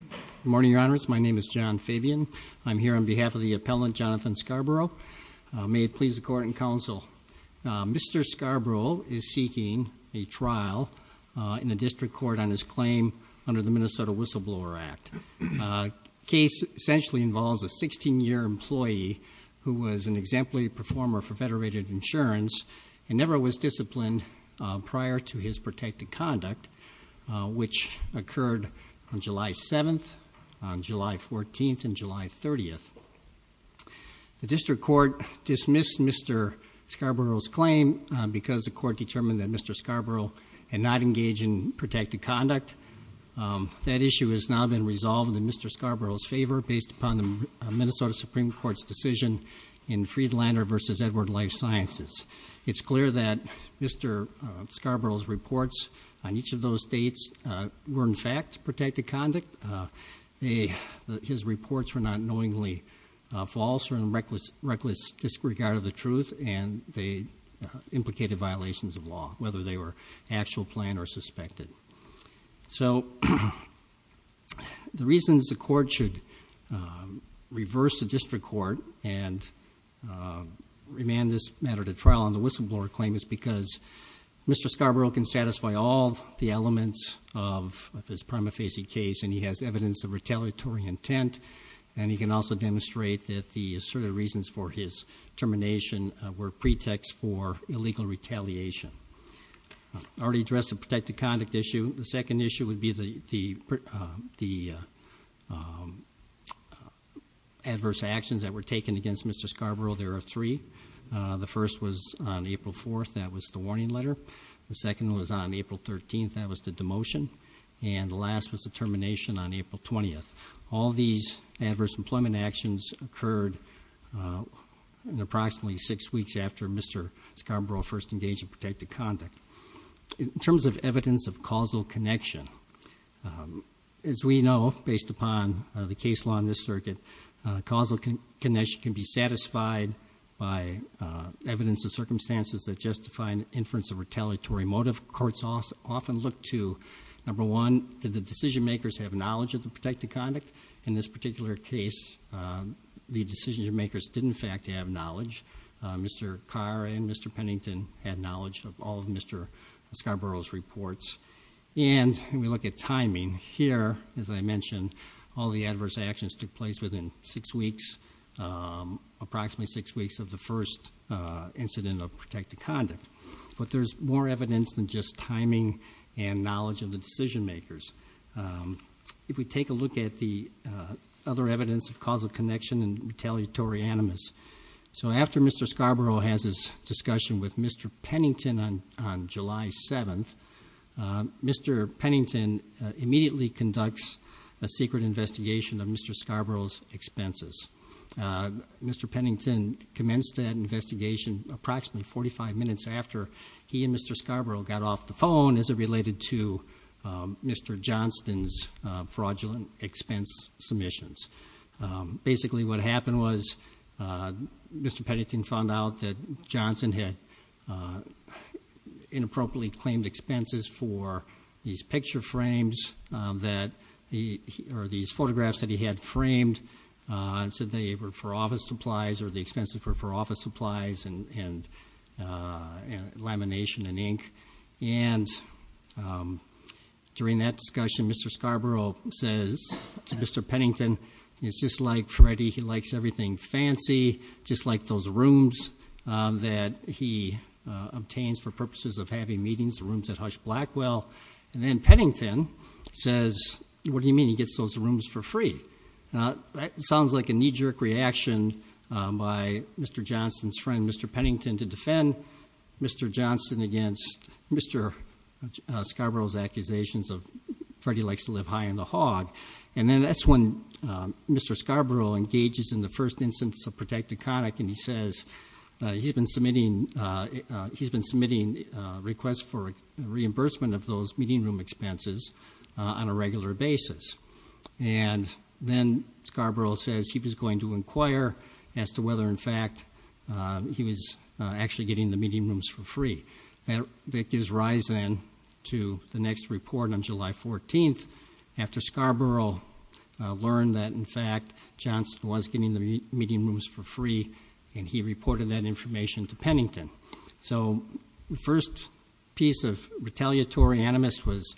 Good morning, your honors. My name is John Fabian. I'm here on behalf of the appellant, Jonathan Scarborough. May it please the court and counsel, Mr. Scarborough is seeking a trial in the district court on his claim under the Minnesota Whistleblower Act. The case essentially involves a 16-year employee who was an exemplary performer for federated insurance and never was disciplined prior to his protected conduct, which occurred on July 7th, July 14th, and July 30th. The district court dismissed Mr. Scarborough's claim because the court determined that Mr. Scarborough had not engaged in protected conduct. That issue has now been resolved in Mr. Scarborough's favor based upon the Minnesota Supreme Court's decision in Friedlander v. Edward Life Sciences. It's clear that Mr. Scarborough's reports on each of those dates were in fact protected conduct. His reports were not knowingly false or in reckless disregard of the truth, and they implicated violations of law, whether they were actual, planned, or suspected. So the reasons the court should reverse the district court and remand this matter to trial on the whistleblower claim is because Mr. Scarborough can satisfy all the elements of this prima facie case, and he has evidence of retaliatory intent, and he can also demonstrate that the asserted reasons for his termination were pretexts for illegal retaliation. I already addressed the protected conduct issue. The second issue would be the adverse actions that were taken against Mr. Scarborough. There are three. The first was on April 4th. That was the warning letter. The second was on April 13th. That was the demotion. And the last was the termination on April 20th. All these adverse employment actions occurred in approximately six weeks after Mr. Scarborough first engaged in protected conduct. In terms of evidence of causal connection, as we know, based upon the case law in this circuit, causal connection can be satisfied by evidence of circumstances that justify an inference of retaliatory motive. Courts often look to, number one, did the decision-makers have knowledge of the protected conduct? In this particular case, the decision-makers did, in fact, have knowledge. Mr. Carr and Mr. Pennington had knowledge of all of Mr. Scarborough's reports. And we look at timing. Here, as I mentioned, all the adverse actions took place within six weeks, approximately six weeks of the first incident of protected conduct. But there's more evidence than just timing and knowledge of the decision-makers. If we take a look at the other evidence of causal connection and retaliatory animus, so after Mr. Scarborough has his discussion with Mr. Pennington on July 7th, Mr. Pennington immediately conducts a secret investigation of Mr. Scarborough's expenses. Mr. Pennington commenced that investigation approximately 45 minutes after he and Mr. Scarborough got off the phone as it related to Mr. Johnston's fraudulent expense submissions. Basically, what happened was Mr. Pennington found out that Johnston had inappropriately claimed expenses for these picture frames, or these photographs that he had framed, and said they were for office supplies or the expenses were for office supplies and lamination and ink. And during that discussion, Mr. Scarborough says to Mr. Pennington, it's just like Freddie, he likes everything fancy, just like those rooms that he obtains for purposes of having meetings, the rooms at Hush Blackwell. And then Pennington says, what do you mean he gets those rooms for free? That sounds like a knee-jerk reaction by Mr. Johnston's friend, Mr. Pennington, to defend Mr. Johnston against Mr. Scarborough's accusations of Freddie likes to live high in the hog. And then that's when Mr. Scarborough engages in the first instance of protected conic, and he says he's been submitting requests for reimbursement of those meeting room expenses on a regular basis. And then Scarborough says he was going to inquire as to whether, in fact, he was actually getting the meeting rooms for free. That gives rise, then, to the next report on July 14th, and he reported that information to Pennington. So the first piece of retaliatory animus was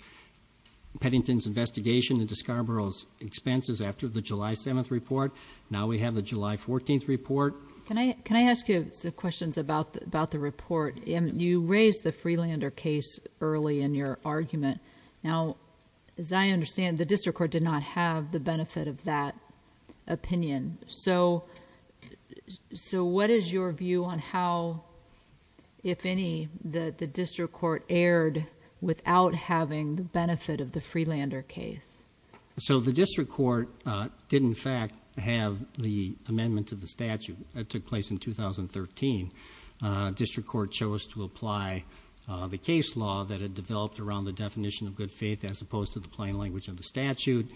Pennington's investigation into Scarborough's expenses after the July 7th report. Now we have the July 14th report. Can I ask you some questions about the report? You raised the Freelander case early in your argument. Now, as I understand, the district court did not have the benefit of that opinion. So what is your view on how, if any, the district court erred without having the benefit of the Freelander case? So the district court did, in fact, have the amendment to the statute. It took place in 2013. District court chose to apply the case law that had developed around the definition of good faith as opposed to the plain language of the statute.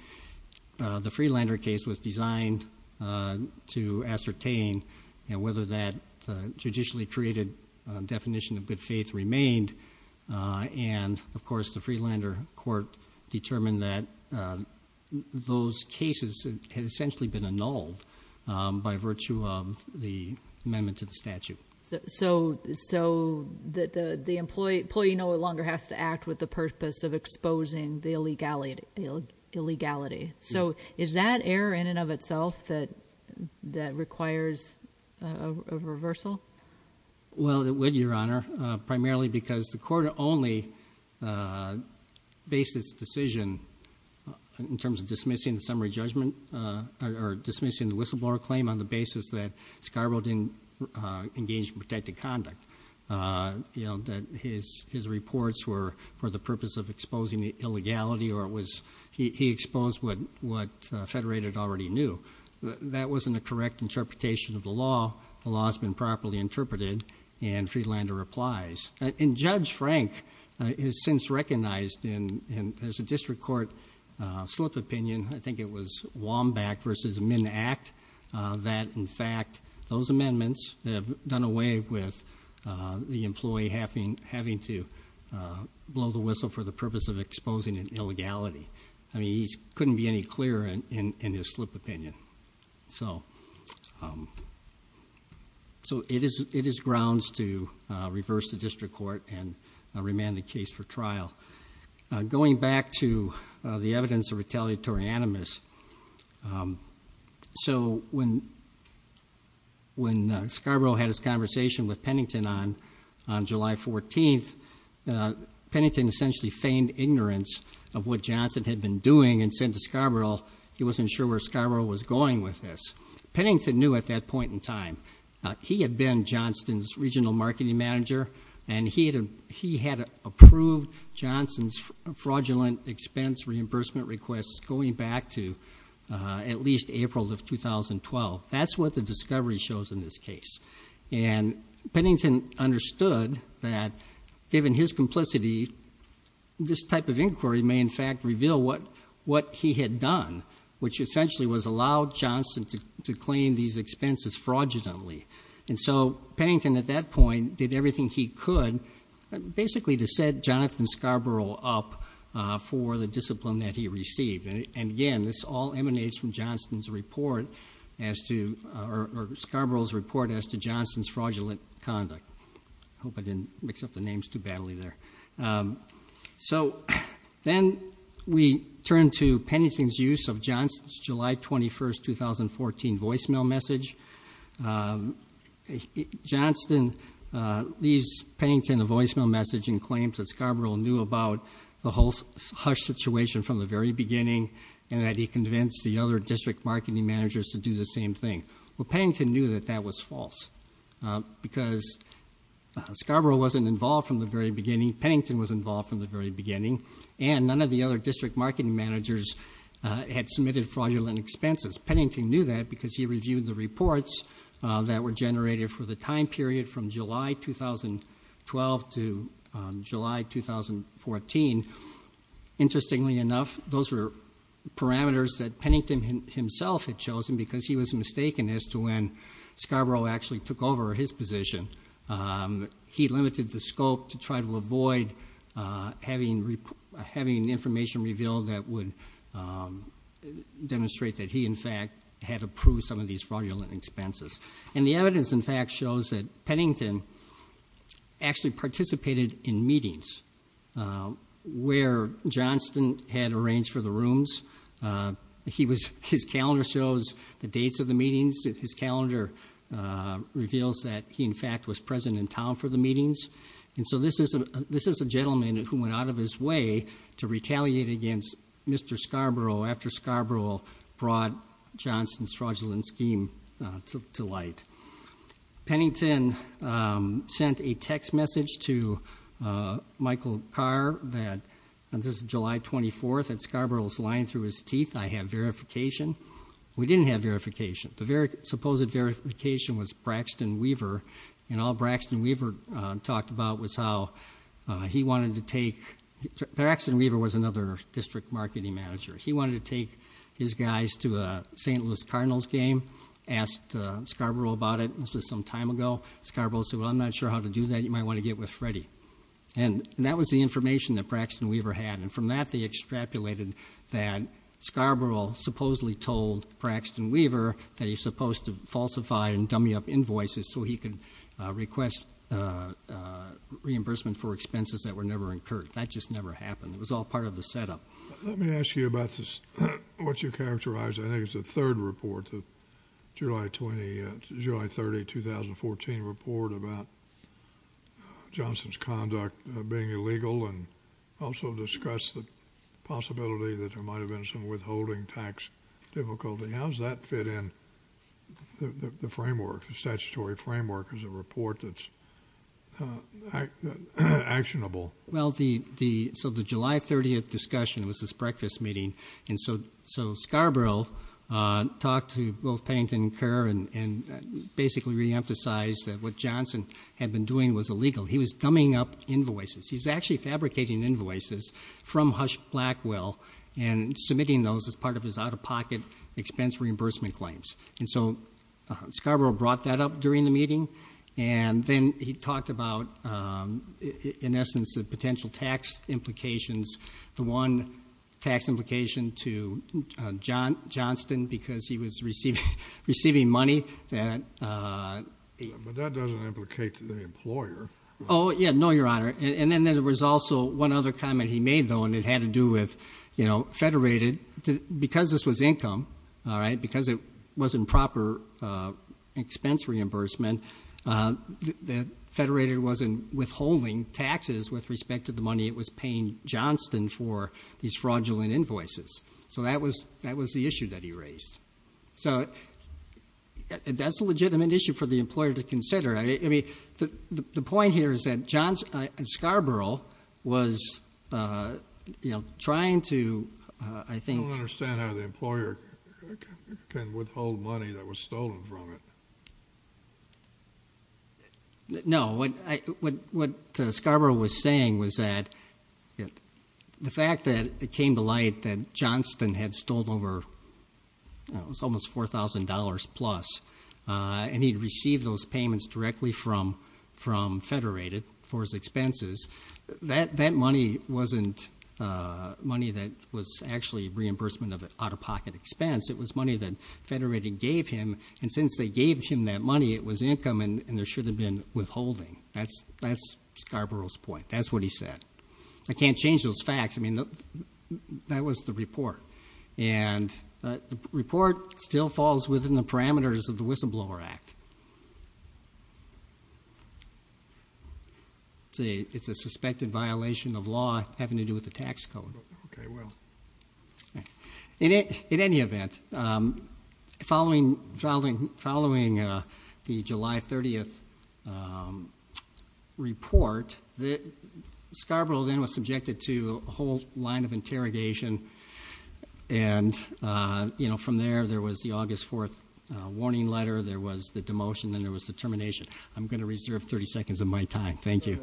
The Freelander case was designed to ascertain whether that judicially created definition of good faith remained. And, of course, the Freelander court determined that those cases had essentially been annulled by virtue of the amendment to the statute. So the employee no longer has to act with the purpose of exposing the illegality. So is that error in and of itself that requires a reversal? Well, it would, Your Honor, primarily because the court only based its decision in terms of dismissing the summary judgment or dismissing the whistleblower claim on the basis that Scarborough didn't engage in protected conduct, that his reports were for the purpose of exposing the illegality or he exposed what Federated already knew. That wasn't a correct interpretation of the law. The law has been properly interpreted, and Freelander applies. And Judge Frank has since recognized in his district court slip opinion, I think it was Womback v. Minn Act, that, in fact, those amendments have done away with the employee having to blow the whistle for the purpose of exposing an illegality. I mean, he couldn't be any clearer in his slip opinion. So it is grounds to reverse the district court and remand the case for trial. Going back to the evidence of retaliatory animus, so when Scarborough had his conversation with Pennington on July 14th, Pennington essentially feigned ignorance of what Johnson had been doing and said to Scarborough he wasn't sure where Scarborough was going with this. Pennington knew at that point in time. He had been Johnson's regional marketing manager, and he had approved Johnson's fraudulent expense reimbursement requests going back to at least April of 2012. That's what the discovery shows in this case. And Pennington understood that given his complicity, this type of inquiry may in fact reveal what he had done, which essentially was allow Johnson to claim these expenses fraudulently. And so Pennington at that point did everything he could basically to set Jonathan Scarborough up for the discipline that he received. And again, this all emanates from Scarborough's report as to Johnson's fraudulent conduct. I hope I didn't mix up the names too badly there. So then we turn to Pennington's use of Johnson's July 21st, 2014 voicemail message. Johnson leaves Pennington a voicemail message and claims that Scarborough knew about the whole hush situation from the very beginning and that he convinced the other district marketing managers to do the same thing. Well, Pennington knew that that was false because Scarborough wasn't involved from the very beginning, Pennington was involved from the very beginning, and none of the other district marketing managers had submitted fraudulent expenses. Pennington knew that because he reviewed the reports that were generated for the time period from July 2012 to July 2014. Interestingly enough, those were parameters that Pennington himself had chosen because he was mistaken as to when Scarborough actually took over his position. He limited the scope to try to avoid having information revealed that would demonstrate that he, in fact, had approved some of these fraudulent expenses. And the evidence, in fact, shows that Pennington actually participated in meetings where Johnson had arranged for the rooms. His calendar shows the dates of the meetings. His calendar reveals that he, in fact, was present in town for the meetings. And so this is a gentleman who went out of his way to retaliate against Mr. Scarborough after Scarborough brought Johnson's fraudulent scheme to light. Pennington sent a text message to Michael Carr that, this is July 24th, that Scarborough is lying through his teeth, I have verification. We didn't have verification. The supposed verification was Braxton Weaver, and all Braxton Weaver talked about was how he wanted to take... Braxton Weaver was another district marketing manager. He wanted to take his guys to a St. Louis Cardinals game, asked Scarborough about it. This was some time ago. Scarborough said, well, I'm not sure how to do that. You might want to get with Freddy. And that was the information that Braxton Weaver had, and from that they extrapolated that Scarborough supposedly told Braxton Weaver that he was supposed to falsify and dummy up invoices so he could request reimbursement for expenses that were never incurred. That just never happened. It was all part of the setup. Let me ask you about what you characterized. I think it was the third report, the July 30, 2014 report about Johnson's conduct being illegal and also discussed the possibility that there might have been some withholding tax difficulty. How does that fit in the framework, the statutory framework, as a report that's actionable? Well, so the July 30 discussion was this breakfast meeting, and so Scarborough talked to both Pennington and Kerr and basically reemphasized that what Johnson had been doing was illegal. He was dummying up invoices. He was actually fabricating invoices from Hush Blackwell and submitting those as part of his out-of-pocket expense reimbursement claims. And so Scarborough brought that up during the meeting, and then he talked about, in essence, the potential tax implications, the one tax implication to Johnston because he was receiving money. But that doesn't implicate the employer. Oh, yeah. No, Your Honor. And then there was also one other comment he made, though, and it had to do with Federated. Because this was income, because it wasn't proper expense reimbursement, Federated wasn't withholding taxes with respect to the money it was paying Johnston for these fraudulent invoices. So that was the issue that he raised. So that's a legitimate issue for the employer to consider. The point here is that Scarborough was trying to, I think. I don't understand how the employer can withhold money that was stolen from it. No. What Scarborough was saying was that the fact that it came to light that Johnston had stolen over almost $4,000 plus and he'd received those payments directly from Federated for his expenses, that money wasn't money that was actually reimbursement of an out-of-pocket expense. It was money that Federated gave him, and since they gave him that money, it was income, and there should have been withholding. That's Scarborough's point. That's what he said. I can't change those facts. I mean, that was the report. The report still falls within the parameters of the Whistleblower Act. It's a suspected violation of law having to do with the tax code. Okay, well. In any event, following the July 30th report, Scarborough then was subjected to a whole line of interrogation, and from there, there was the August 4th warning letter, there was the demotion, then there was the termination. I'm going to reserve 30 seconds of my time. Thank you.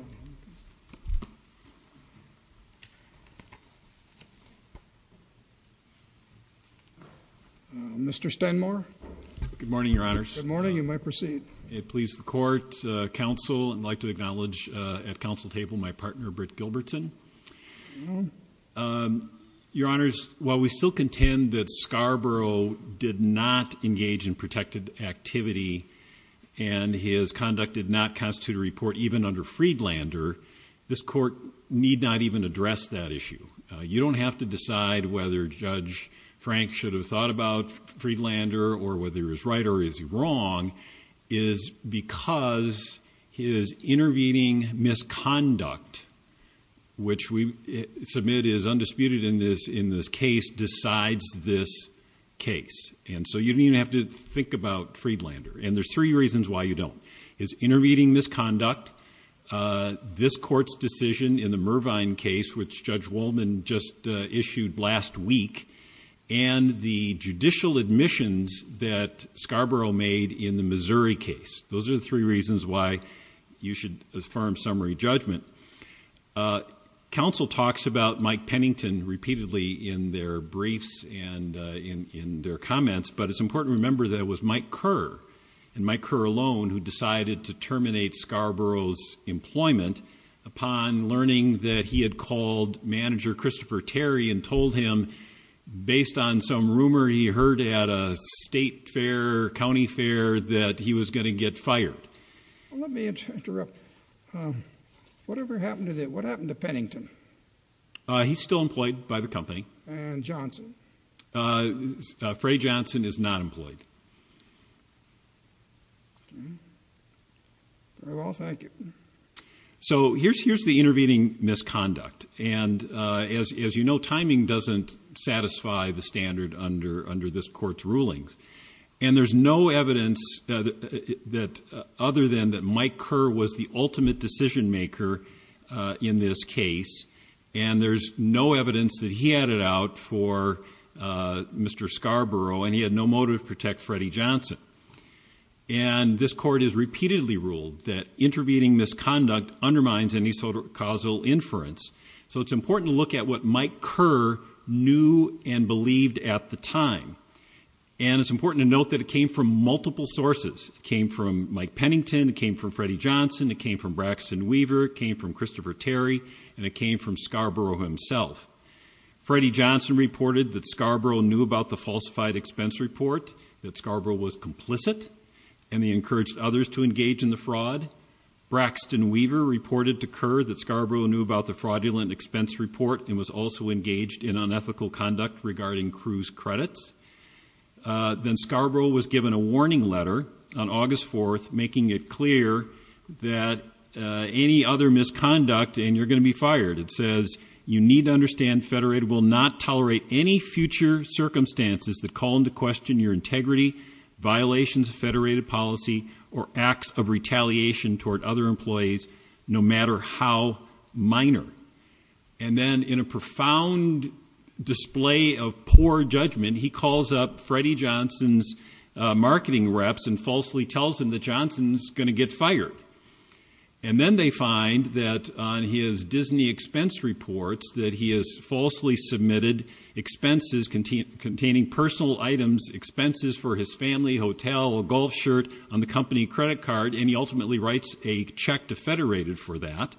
Mr. Stenmore? Good morning, Your Honors. Good morning. You may proceed. It pleases the court, counsel, and I'd like to acknowledge at council table my partner, Britt Gilbertson. Your Honors, while we still contend that Scarborough did not engage in protected activity and his conduct did not constitute a report even under Friedlander, this court need not even address that issue. You don't have to decide whether Judge Frank should have thought about Friedlander or whether he was right or is he wrong is because his intervening misconduct, which we submit is undisputed in this case, decides this case. And so you don't even have to think about Friedlander. And there's three reasons why you don't. His intervening misconduct, this court's decision in the Mervine case, which Judge Wolman just issued last week, and the judicial admissions that Scarborough made in the Missouri case. Those are the three reasons why you should affirm summary judgment. Counsel talks about Mike Pennington repeatedly in their briefs and in their comments, but it's important to remember that it was Mike Kerr and Mike Kerr alone who decided to terminate Scarborough's employment upon learning that he had called manager Christopher Terry and told him based on some rumor he heard at a state fair or county fair that he was going to get fired. Let me interrupt. Whatever happened to that? What happened to Pennington? He's still employed by the company. And Johnson? Freddie Johnson is not employed. Okay. Very well, thank you. So here's the intervening misconduct. And as you know, timing doesn't satisfy the standard under this court's rulings. And there's no evidence other than that Mike Kerr was the ultimate decision maker in this case, and there's no evidence that he had it out for Mr. Scarborough, and he had no motive to protect Freddie Johnson. And this court has repeatedly ruled that intervening misconduct undermines any causal inference, so it's important to look at what Mike Kerr knew and believed at the time. And it's important to note that it came from multiple sources. It came from Mike Pennington, it came from Freddie Johnson, it came from Braxton Weaver, it came from Christopher Terry, and it came from Scarborough himself. Freddie Johnson reported that Scarborough knew about the falsified expense report, that Scarborough was complicit, and he encouraged others to engage in the fraud. Braxton Weaver reported to Kerr that Scarborough knew about the fraudulent expense report and was also engaged in unethical conduct regarding Cruz credits. Then Scarborough was given a warning letter on August 4th making it clear that any other misconduct and you're going to be fired. It says, you need to understand Federated will not tolerate any future circumstances that call into question your integrity, violations of Federated policy, or acts of retaliation toward other employees no matter how minor. And then in a profound display of poor judgment, he calls up Freddie Johnson's marketing reps and falsely tells them that Johnson's going to get fired. And then they find that on his Disney expense reports that he has falsely submitted expenses containing personal items, expenses for his family, hotel, a golf shirt, on the company credit card, and he ultimately writes a check to Federated for that.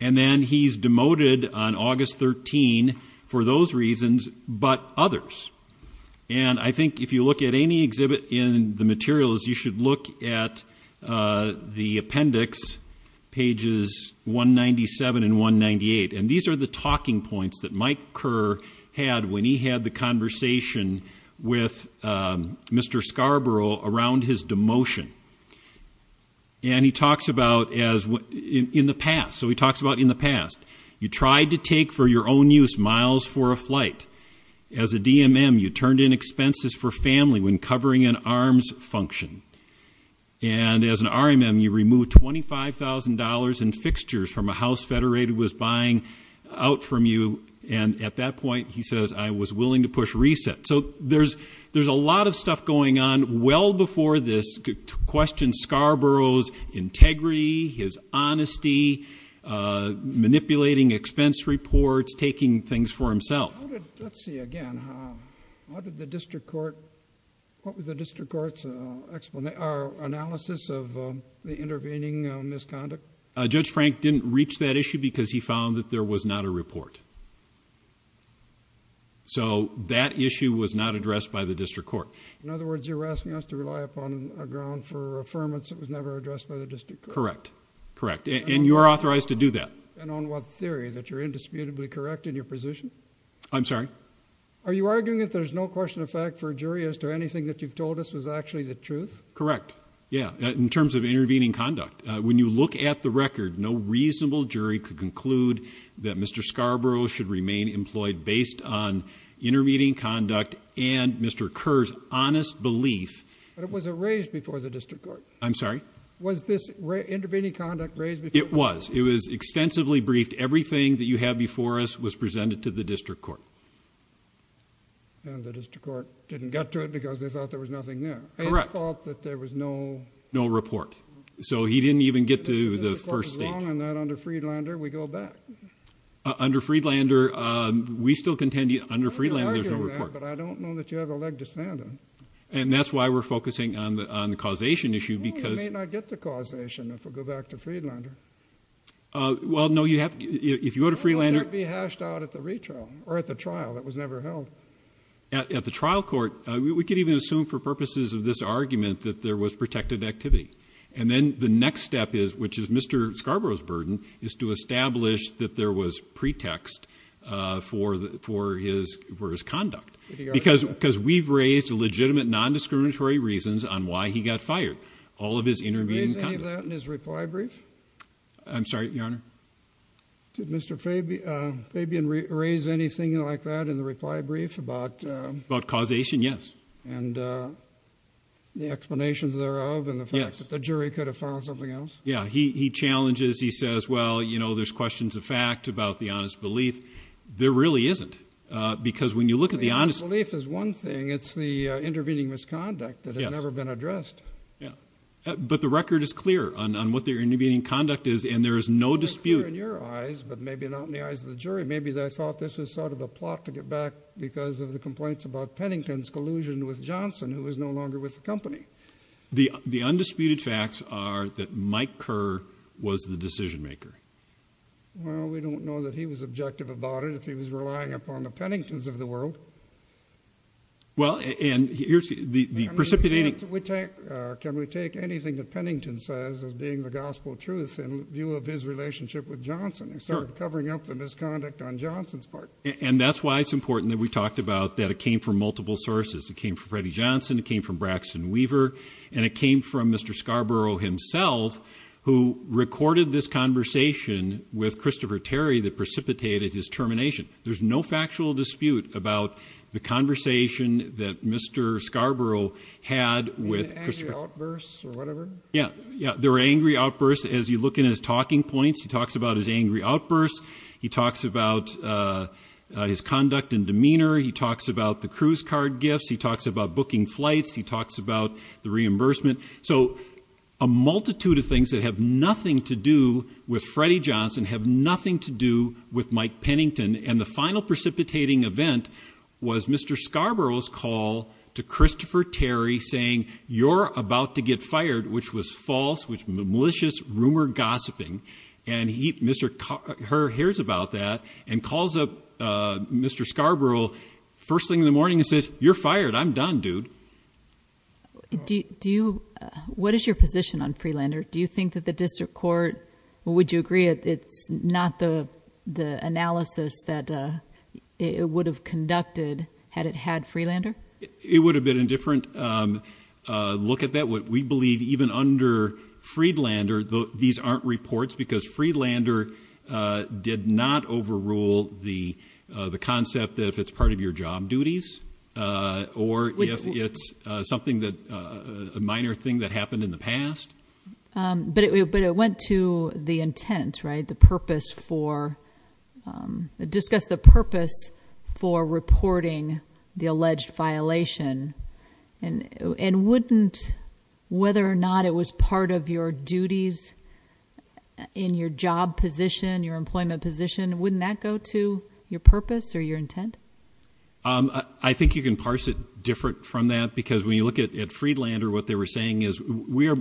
And then he's demoted on August 13 for those reasons but others. And I think if you look at any exhibit in the materials, you should look at the appendix, pages 197 and 198. And these are the talking points that Mike Kerr had when he had the conversation with Mr. Scarborough around his demotion. And he talks about in the past. So he talks about in the past. You tried to take for your own use miles for a flight. As a DMM, you turned in expenses for family when covering an arms function. And as an RMM, you removed $25,000 in fixtures from a house Federated was buying out from you. And at that point, he says, I was willing to push reset. So there's a lot of stuff going on well before this to question Scarborough's integrity, his honesty, manipulating expense reports, taking things for himself. Let's see again. What did the district court's analysis of the intervening misconduct? Judge Frank didn't reach that issue because he found that there was not a report. So that issue was not addressed by the district court. In other words, you're asking us to rely upon a ground for affirmance. It was never addressed by the district. Correct. Correct. And you're authorized to do that. And on what theory that you're indisputably correct in your position. I'm sorry. Are you arguing that there's no question of fact for a jury as to anything that you've told us was actually the truth? Correct. Yeah. In terms of intervening conduct. When you look at the record, no reasonable jury could conclude that Mr. Scarborough should remain employed based on intervening conduct and Mr. Kerr's honest belief. But it wasn't raised before the district court. I'm sorry. Was this intervening conduct raised? It was. It was extensively briefed. Everything that you have before us was presented to the district court. And the district court didn't get to it because they thought there was nothing there. Correct. And thought that there was no. No report. So he didn't even get to the first stage. Under Freelander, we still contend under Freelander, there's no report. But I don't know that you have a leg to stand on. And that's why we're focusing on the causation issue because. You may not get the causation if we go back to Freelander. Well, no, you have. If you go to Freelander. That would be hashed out at the retrial or at the trial. That was never held. At the trial court, we could even assume for purposes of this argument that there was protected activity. And then the next step is, which is Mr. Scarborough's burden, is to establish that there was pretext for his conduct. Because we've raised legitimate non-discriminatory reasons on why he got fired. All of his intervening conduct. Did you raise any of that in his reply brief? I'm sorry, Your Honor? Did Mr. Fabian raise anything like that in the reply brief about. About causation, yes. And the explanations thereof and the fact that the jury could have found something else. Yeah, he challenges. He says, well, you know, there's questions of fact about the honest belief. There really isn't. Because when you look at the honest. Belief is one thing. It's the intervening misconduct that has never been addressed. Yeah. But the record is clear on what their intervening conduct is. In your eyes, but maybe not in the eyes of the jury. Maybe they thought this was sort of a plot to get back. Because of the complaints about Pennington's collusion with Johnson. Who is no longer with the company. The undisputed facts are that Mike Kerr was the decision maker. Well, we don't know that he was objective about it. If he was relying upon the Penningtons of the world. Well, and here's the precipitating. Can we take anything that Pennington says as being the gospel truth. In view of his relationship with Johnson. Covering up the misconduct on Johnson's part. And that's why it's important that we talked about that. It came from multiple sources. It came from Freddie Johnson. It came from Braxton Weaver. And it came from Mr. Scarborough himself. Who recorded this conversation with Christopher Terry that precipitated his termination. There's no factual dispute about the conversation that Mr. Scarborough had with. Yeah. There were angry outbursts as you look in his talking points. He talks about his angry outbursts. He talks about his conduct and demeanor. He talks about the cruise card gifts. He talks about booking flights. He talks about the reimbursement. So, a multitude of things that have nothing to do with Freddie Johnson. Have nothing to do with Mike Pennington. And the final precipitating event was Mr. Scarborough's call to Christopher Terry. Saying, you're about to get fired. Which was false. Which was malicious rumor gossiping. And Mr. Kerr hears about that. And calls up Mr. Scarborough first thing in the morning and says, you're fired. I'm done, dude. Do you, what is your position on Freelander? Do you think that the district court, would you agree it's not the analysis that it would have conducted had it had Freelander? It would have been a different look at that. We believe even under Freelander, these aren't reports. Because Freelander did not overrule the concept that if it's part of your job duties. Or if it's something that, a minor thing that happened in the past. But it went to the intent, right? The purpose for, discuss the purpose for reporting the alleged violation. And wouldn't, whether or not it was part of your duties in your job position, your employment position. Wouldn't that go to your purpose or your intent? I think you can parse it different from that. Because when you look at Freelander, what they were saying is, we are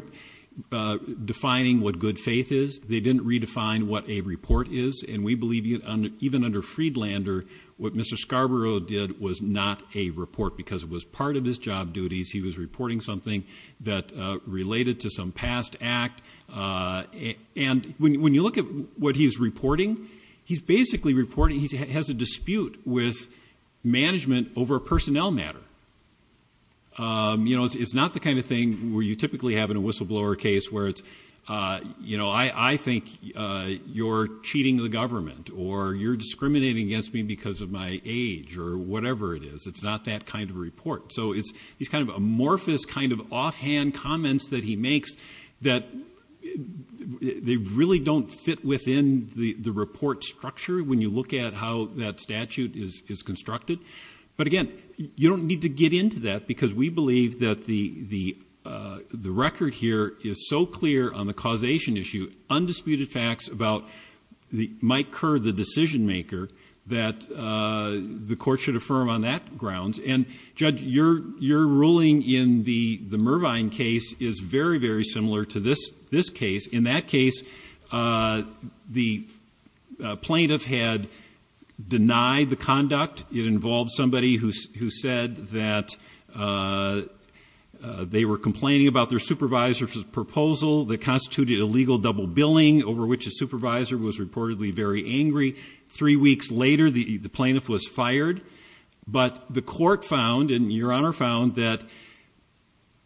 defining what good faith is. They didn't redefine what a report is. And we believe even under Freelander, what Mr. Scarborough did was not a report. Because it was part of his job duties. He was reporting something that related to some past act. And when you look at what he's reporting, he's basically reporting, he has a dispute with management over a personnel matter. You know, it's not the kind of thing where you typically have in a whistleblower case. Where it's, you know, I think you're cheating the government. Or you're discriminating against me because of my age. Or whatever it is. It's not that kind of report. So it's these kind of amorphous, kind of offhand comments that he makes. That they really don't fit within the report structure when you look at how that statute is constructed. But again, you don't need to get into that. Because we believe that the record here is so clear on the causation issue. Undisputed facts about Mike Kerr, the decision maker. That the court should affirm on that grounds. And Judge, your ruling in the Mervine case is very, very similar to this case. In that case, the plaintiff had denied the conduct. It involved somebody who said that they were complaining about their supervisor's proposal. That constituted illegal double billing. Over which the supervisor was reportedly very angry. Three weeks later, the plaintiff was fired. But the court found, and your honor found, that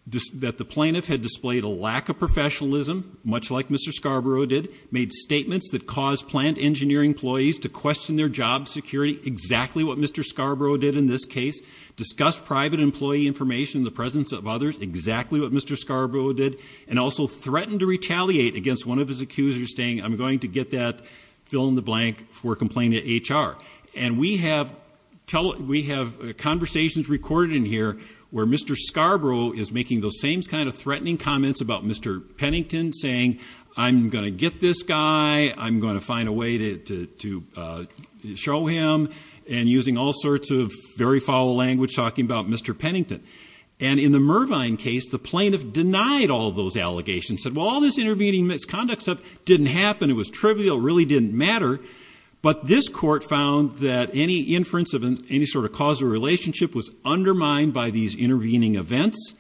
the plaintiff had displayed a lack of professionalism. Much like Mr. Scarborough did. Made statements that caused plant engineering employees to question their job security. Exactly what Mr. Scarborough did in this case. Discussed private employee information in the presence of others. Exactly what Mr. Scarborough did. And also threatened to retaliate against one of his accusers. Saying, I'm going to get that fill in the blank for complaining to HR. And we have conversations recorded in here. Where Mr. Scarborough is making those same kind of threatening comments about Mr. Pennington. Saying, I'm going to get this guy. I'm going to find a way to show him. And using all sorts of very foul language. Talking about Mr. Pennington. And in the Mervine case, the plaintiff denied all those allegations. Said, well, all this intervening misconduct stuff didn't happen. It was trivial. It really didn't matter. But this court found that any inference of any sort of causal relationship was undermined by these intervening events.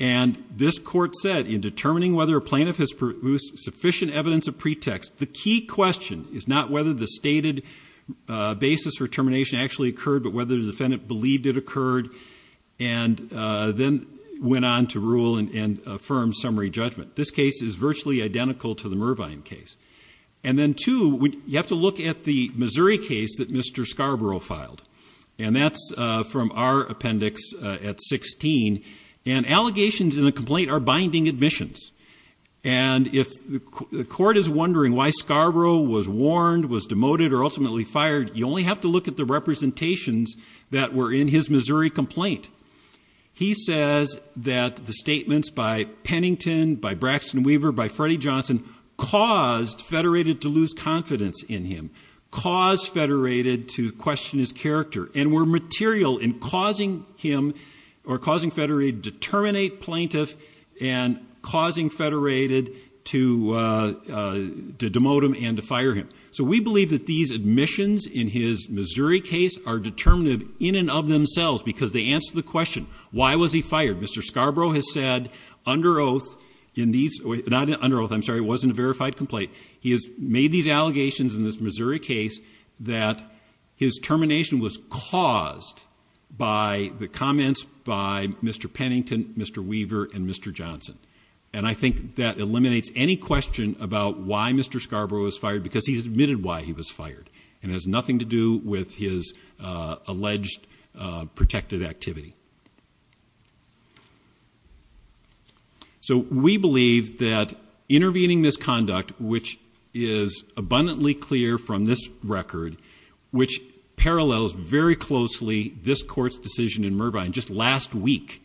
And this court said, in determining whether a plaintiff has produced sufficient evidence of pretext. The key question is not whether the stated basis for termination actually occurred. But whether the defendant believed it occurred. And then went on to rule and affirm summary judgment. This case is virtually identical to the Mervine case. And then two, you have to look at the Missouri case that Mr. Scarborough filed. And that's from our appendix at 16. And allegations in a complaint are binding admissions. And if the court is wondering why Scarborough was warned, was demoted, or ultimately fired. You only have to look at the representations that were in his Missouri complaint. He says that the statements by Pennington, by Braxton Weaver, by Freddie Johnson. Caused Federated to lose confidence in him. Caused Federated to question his character. And were material in causing Federated to terminate plaintiff. And causing Federated to demote him and to fire him. So we believe that these admissions in his Missouri case are determinative in and of themselves. Because they answer the question. Why was he fired? Mr. Scarborough has said under oath. Not under oath, I'm sorry. It wasn't a verified complaint. He has made these allegations in this Missouri case. That his termination was caused by the comments by Mr. Pennington, Mr. Weaver, and Mr. Johnson. And I think that eliminates any question about why Mr. Scarborough was fired. Because he's admitted why he was fired. And it has nothing to do with his alleged protected activity. So we believe that intervening misconduct. Which is abundantly clear from this record. Which parallels very closely this court's decision in Mervine just last week.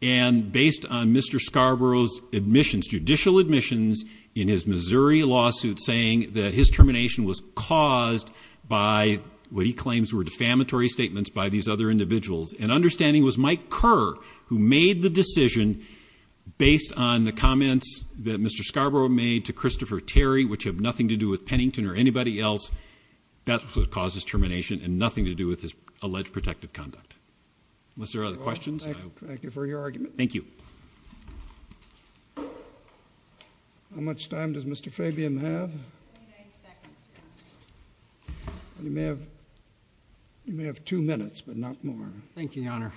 And based on Mr. Scarborough's admissions, judicial admissions in his Missouri lawsuit. Saying that his termination was caused by what he claims were defamatory statements by these other individuals. And understanding it was Mike Kerr who made the decision. Based on the comments that Mr. Scarborough made to Christopher Terry. Which have nothing to do with Pennington or anybody else. That's what caused his termination. And nothing to do with his alleged protected conduct. Unless there are other questions. Thank you for your argument. Thank you. How much time does Mr. Fabian have? Twenty-nine seconds. You may have two minutes, but not more. Thank you, Your Honor.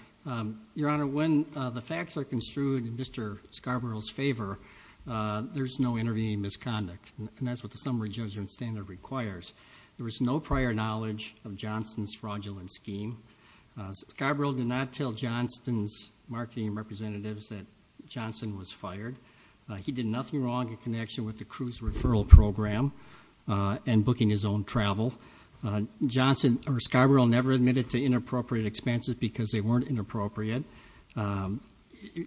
Your Honor, when the facts are construed in Mr. Scarborough's favor, there's no intervening misconduct. And that's what the summary judgment standard requires. There was no prior knowledge of Johnson's fraudulent scheme. Scarborough did not tell Johnson's marketing representatives that Johnson was fired. He did nothing wrong in connection with the cruise referral program. And booking his own travel. Scarborough never admitted to inappropriate expenses because they weren't inappropriate.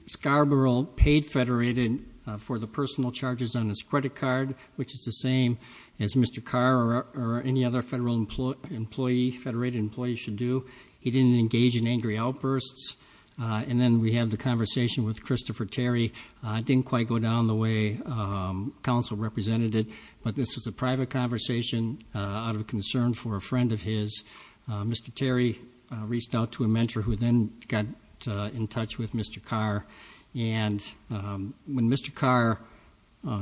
Scarborough paid Federated for the personal charges on his credit card. Which is the same as Mr. Carr or any other Federated employee should do. He didn't engage in angry outbursts. And then we have the conversation with Christopher Terry. It didn't quite go down the way counsel represented it. But this was a private conversation out of concern for a friend of his. Mr. Terry reached out to a mentor who then got in touch with Mr. Carr. And when Mr. Carr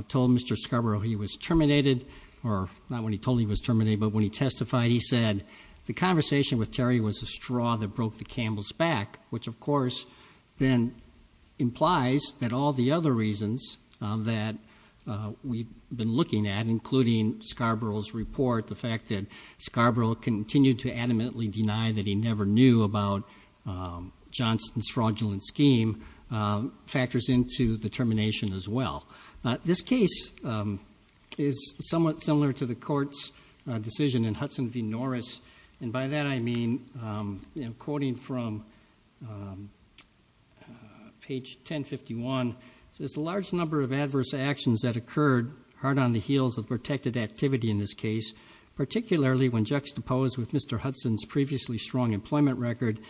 told Mr. Scarborough he was terminated, or not when he told him he was terminated, but when he testified, he said the conversation with Terry was a straw that broke the camel's back. Which, of course, then implies that all the other reasons that we've been looking at, including Scarborough's report, the fact that Scarborough continued to adamantly deny that he never knew about Johnston's fraudulent scheme, factors into the termination as well. This case is somewhat similar to the court's decision in Hudson v. Norris. And by that I mean, quoting from page 1051, it says a large number of adverse actions that occurred hard on the heels of protected activity in this case, particularly when juxtaposed with Mr. Hudson's previously strong employment record,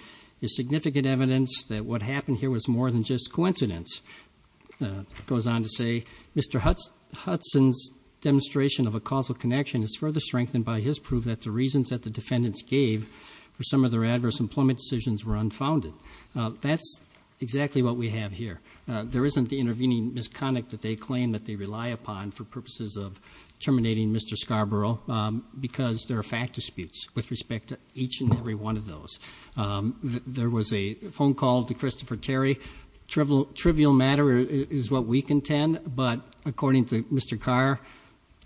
is significant evidence that what happened here was more than just coincidence. Goes on to say, Mr. Hudson's demonstration of a causal connection is further strengthened by his proof that the reasons that the defendants gave for some of their adverse employment decisions were unfounded. That's exactly what we have here. There isn't the intervening misconduct that they claim that they rely upon for purposes of terminating Mr. Scarborough, because there are fact disputes with respect to each and every one of those. There was a phone call to Christopher Terry, trivial matter is what we contend, but according to Mr. Carr,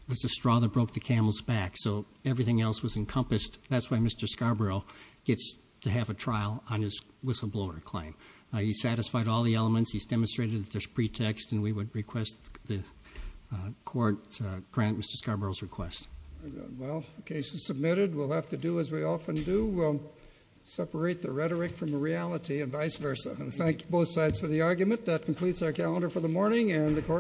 it was a straw that broke the camel's back, so everything else was encompassed. That's why Mr. Scarborough gets to have a trial on his whistleblower claim. He's satisfied all the elements. He's demonstrated that there's pretext, and we would request the court grant Mr. Scarborough's request. Well, the case is submitted. We'll have to do as we often do. We'll separate the rhetoric from the reality and vice versa. I thank both sides for the argument. That completes our calendar for the morning.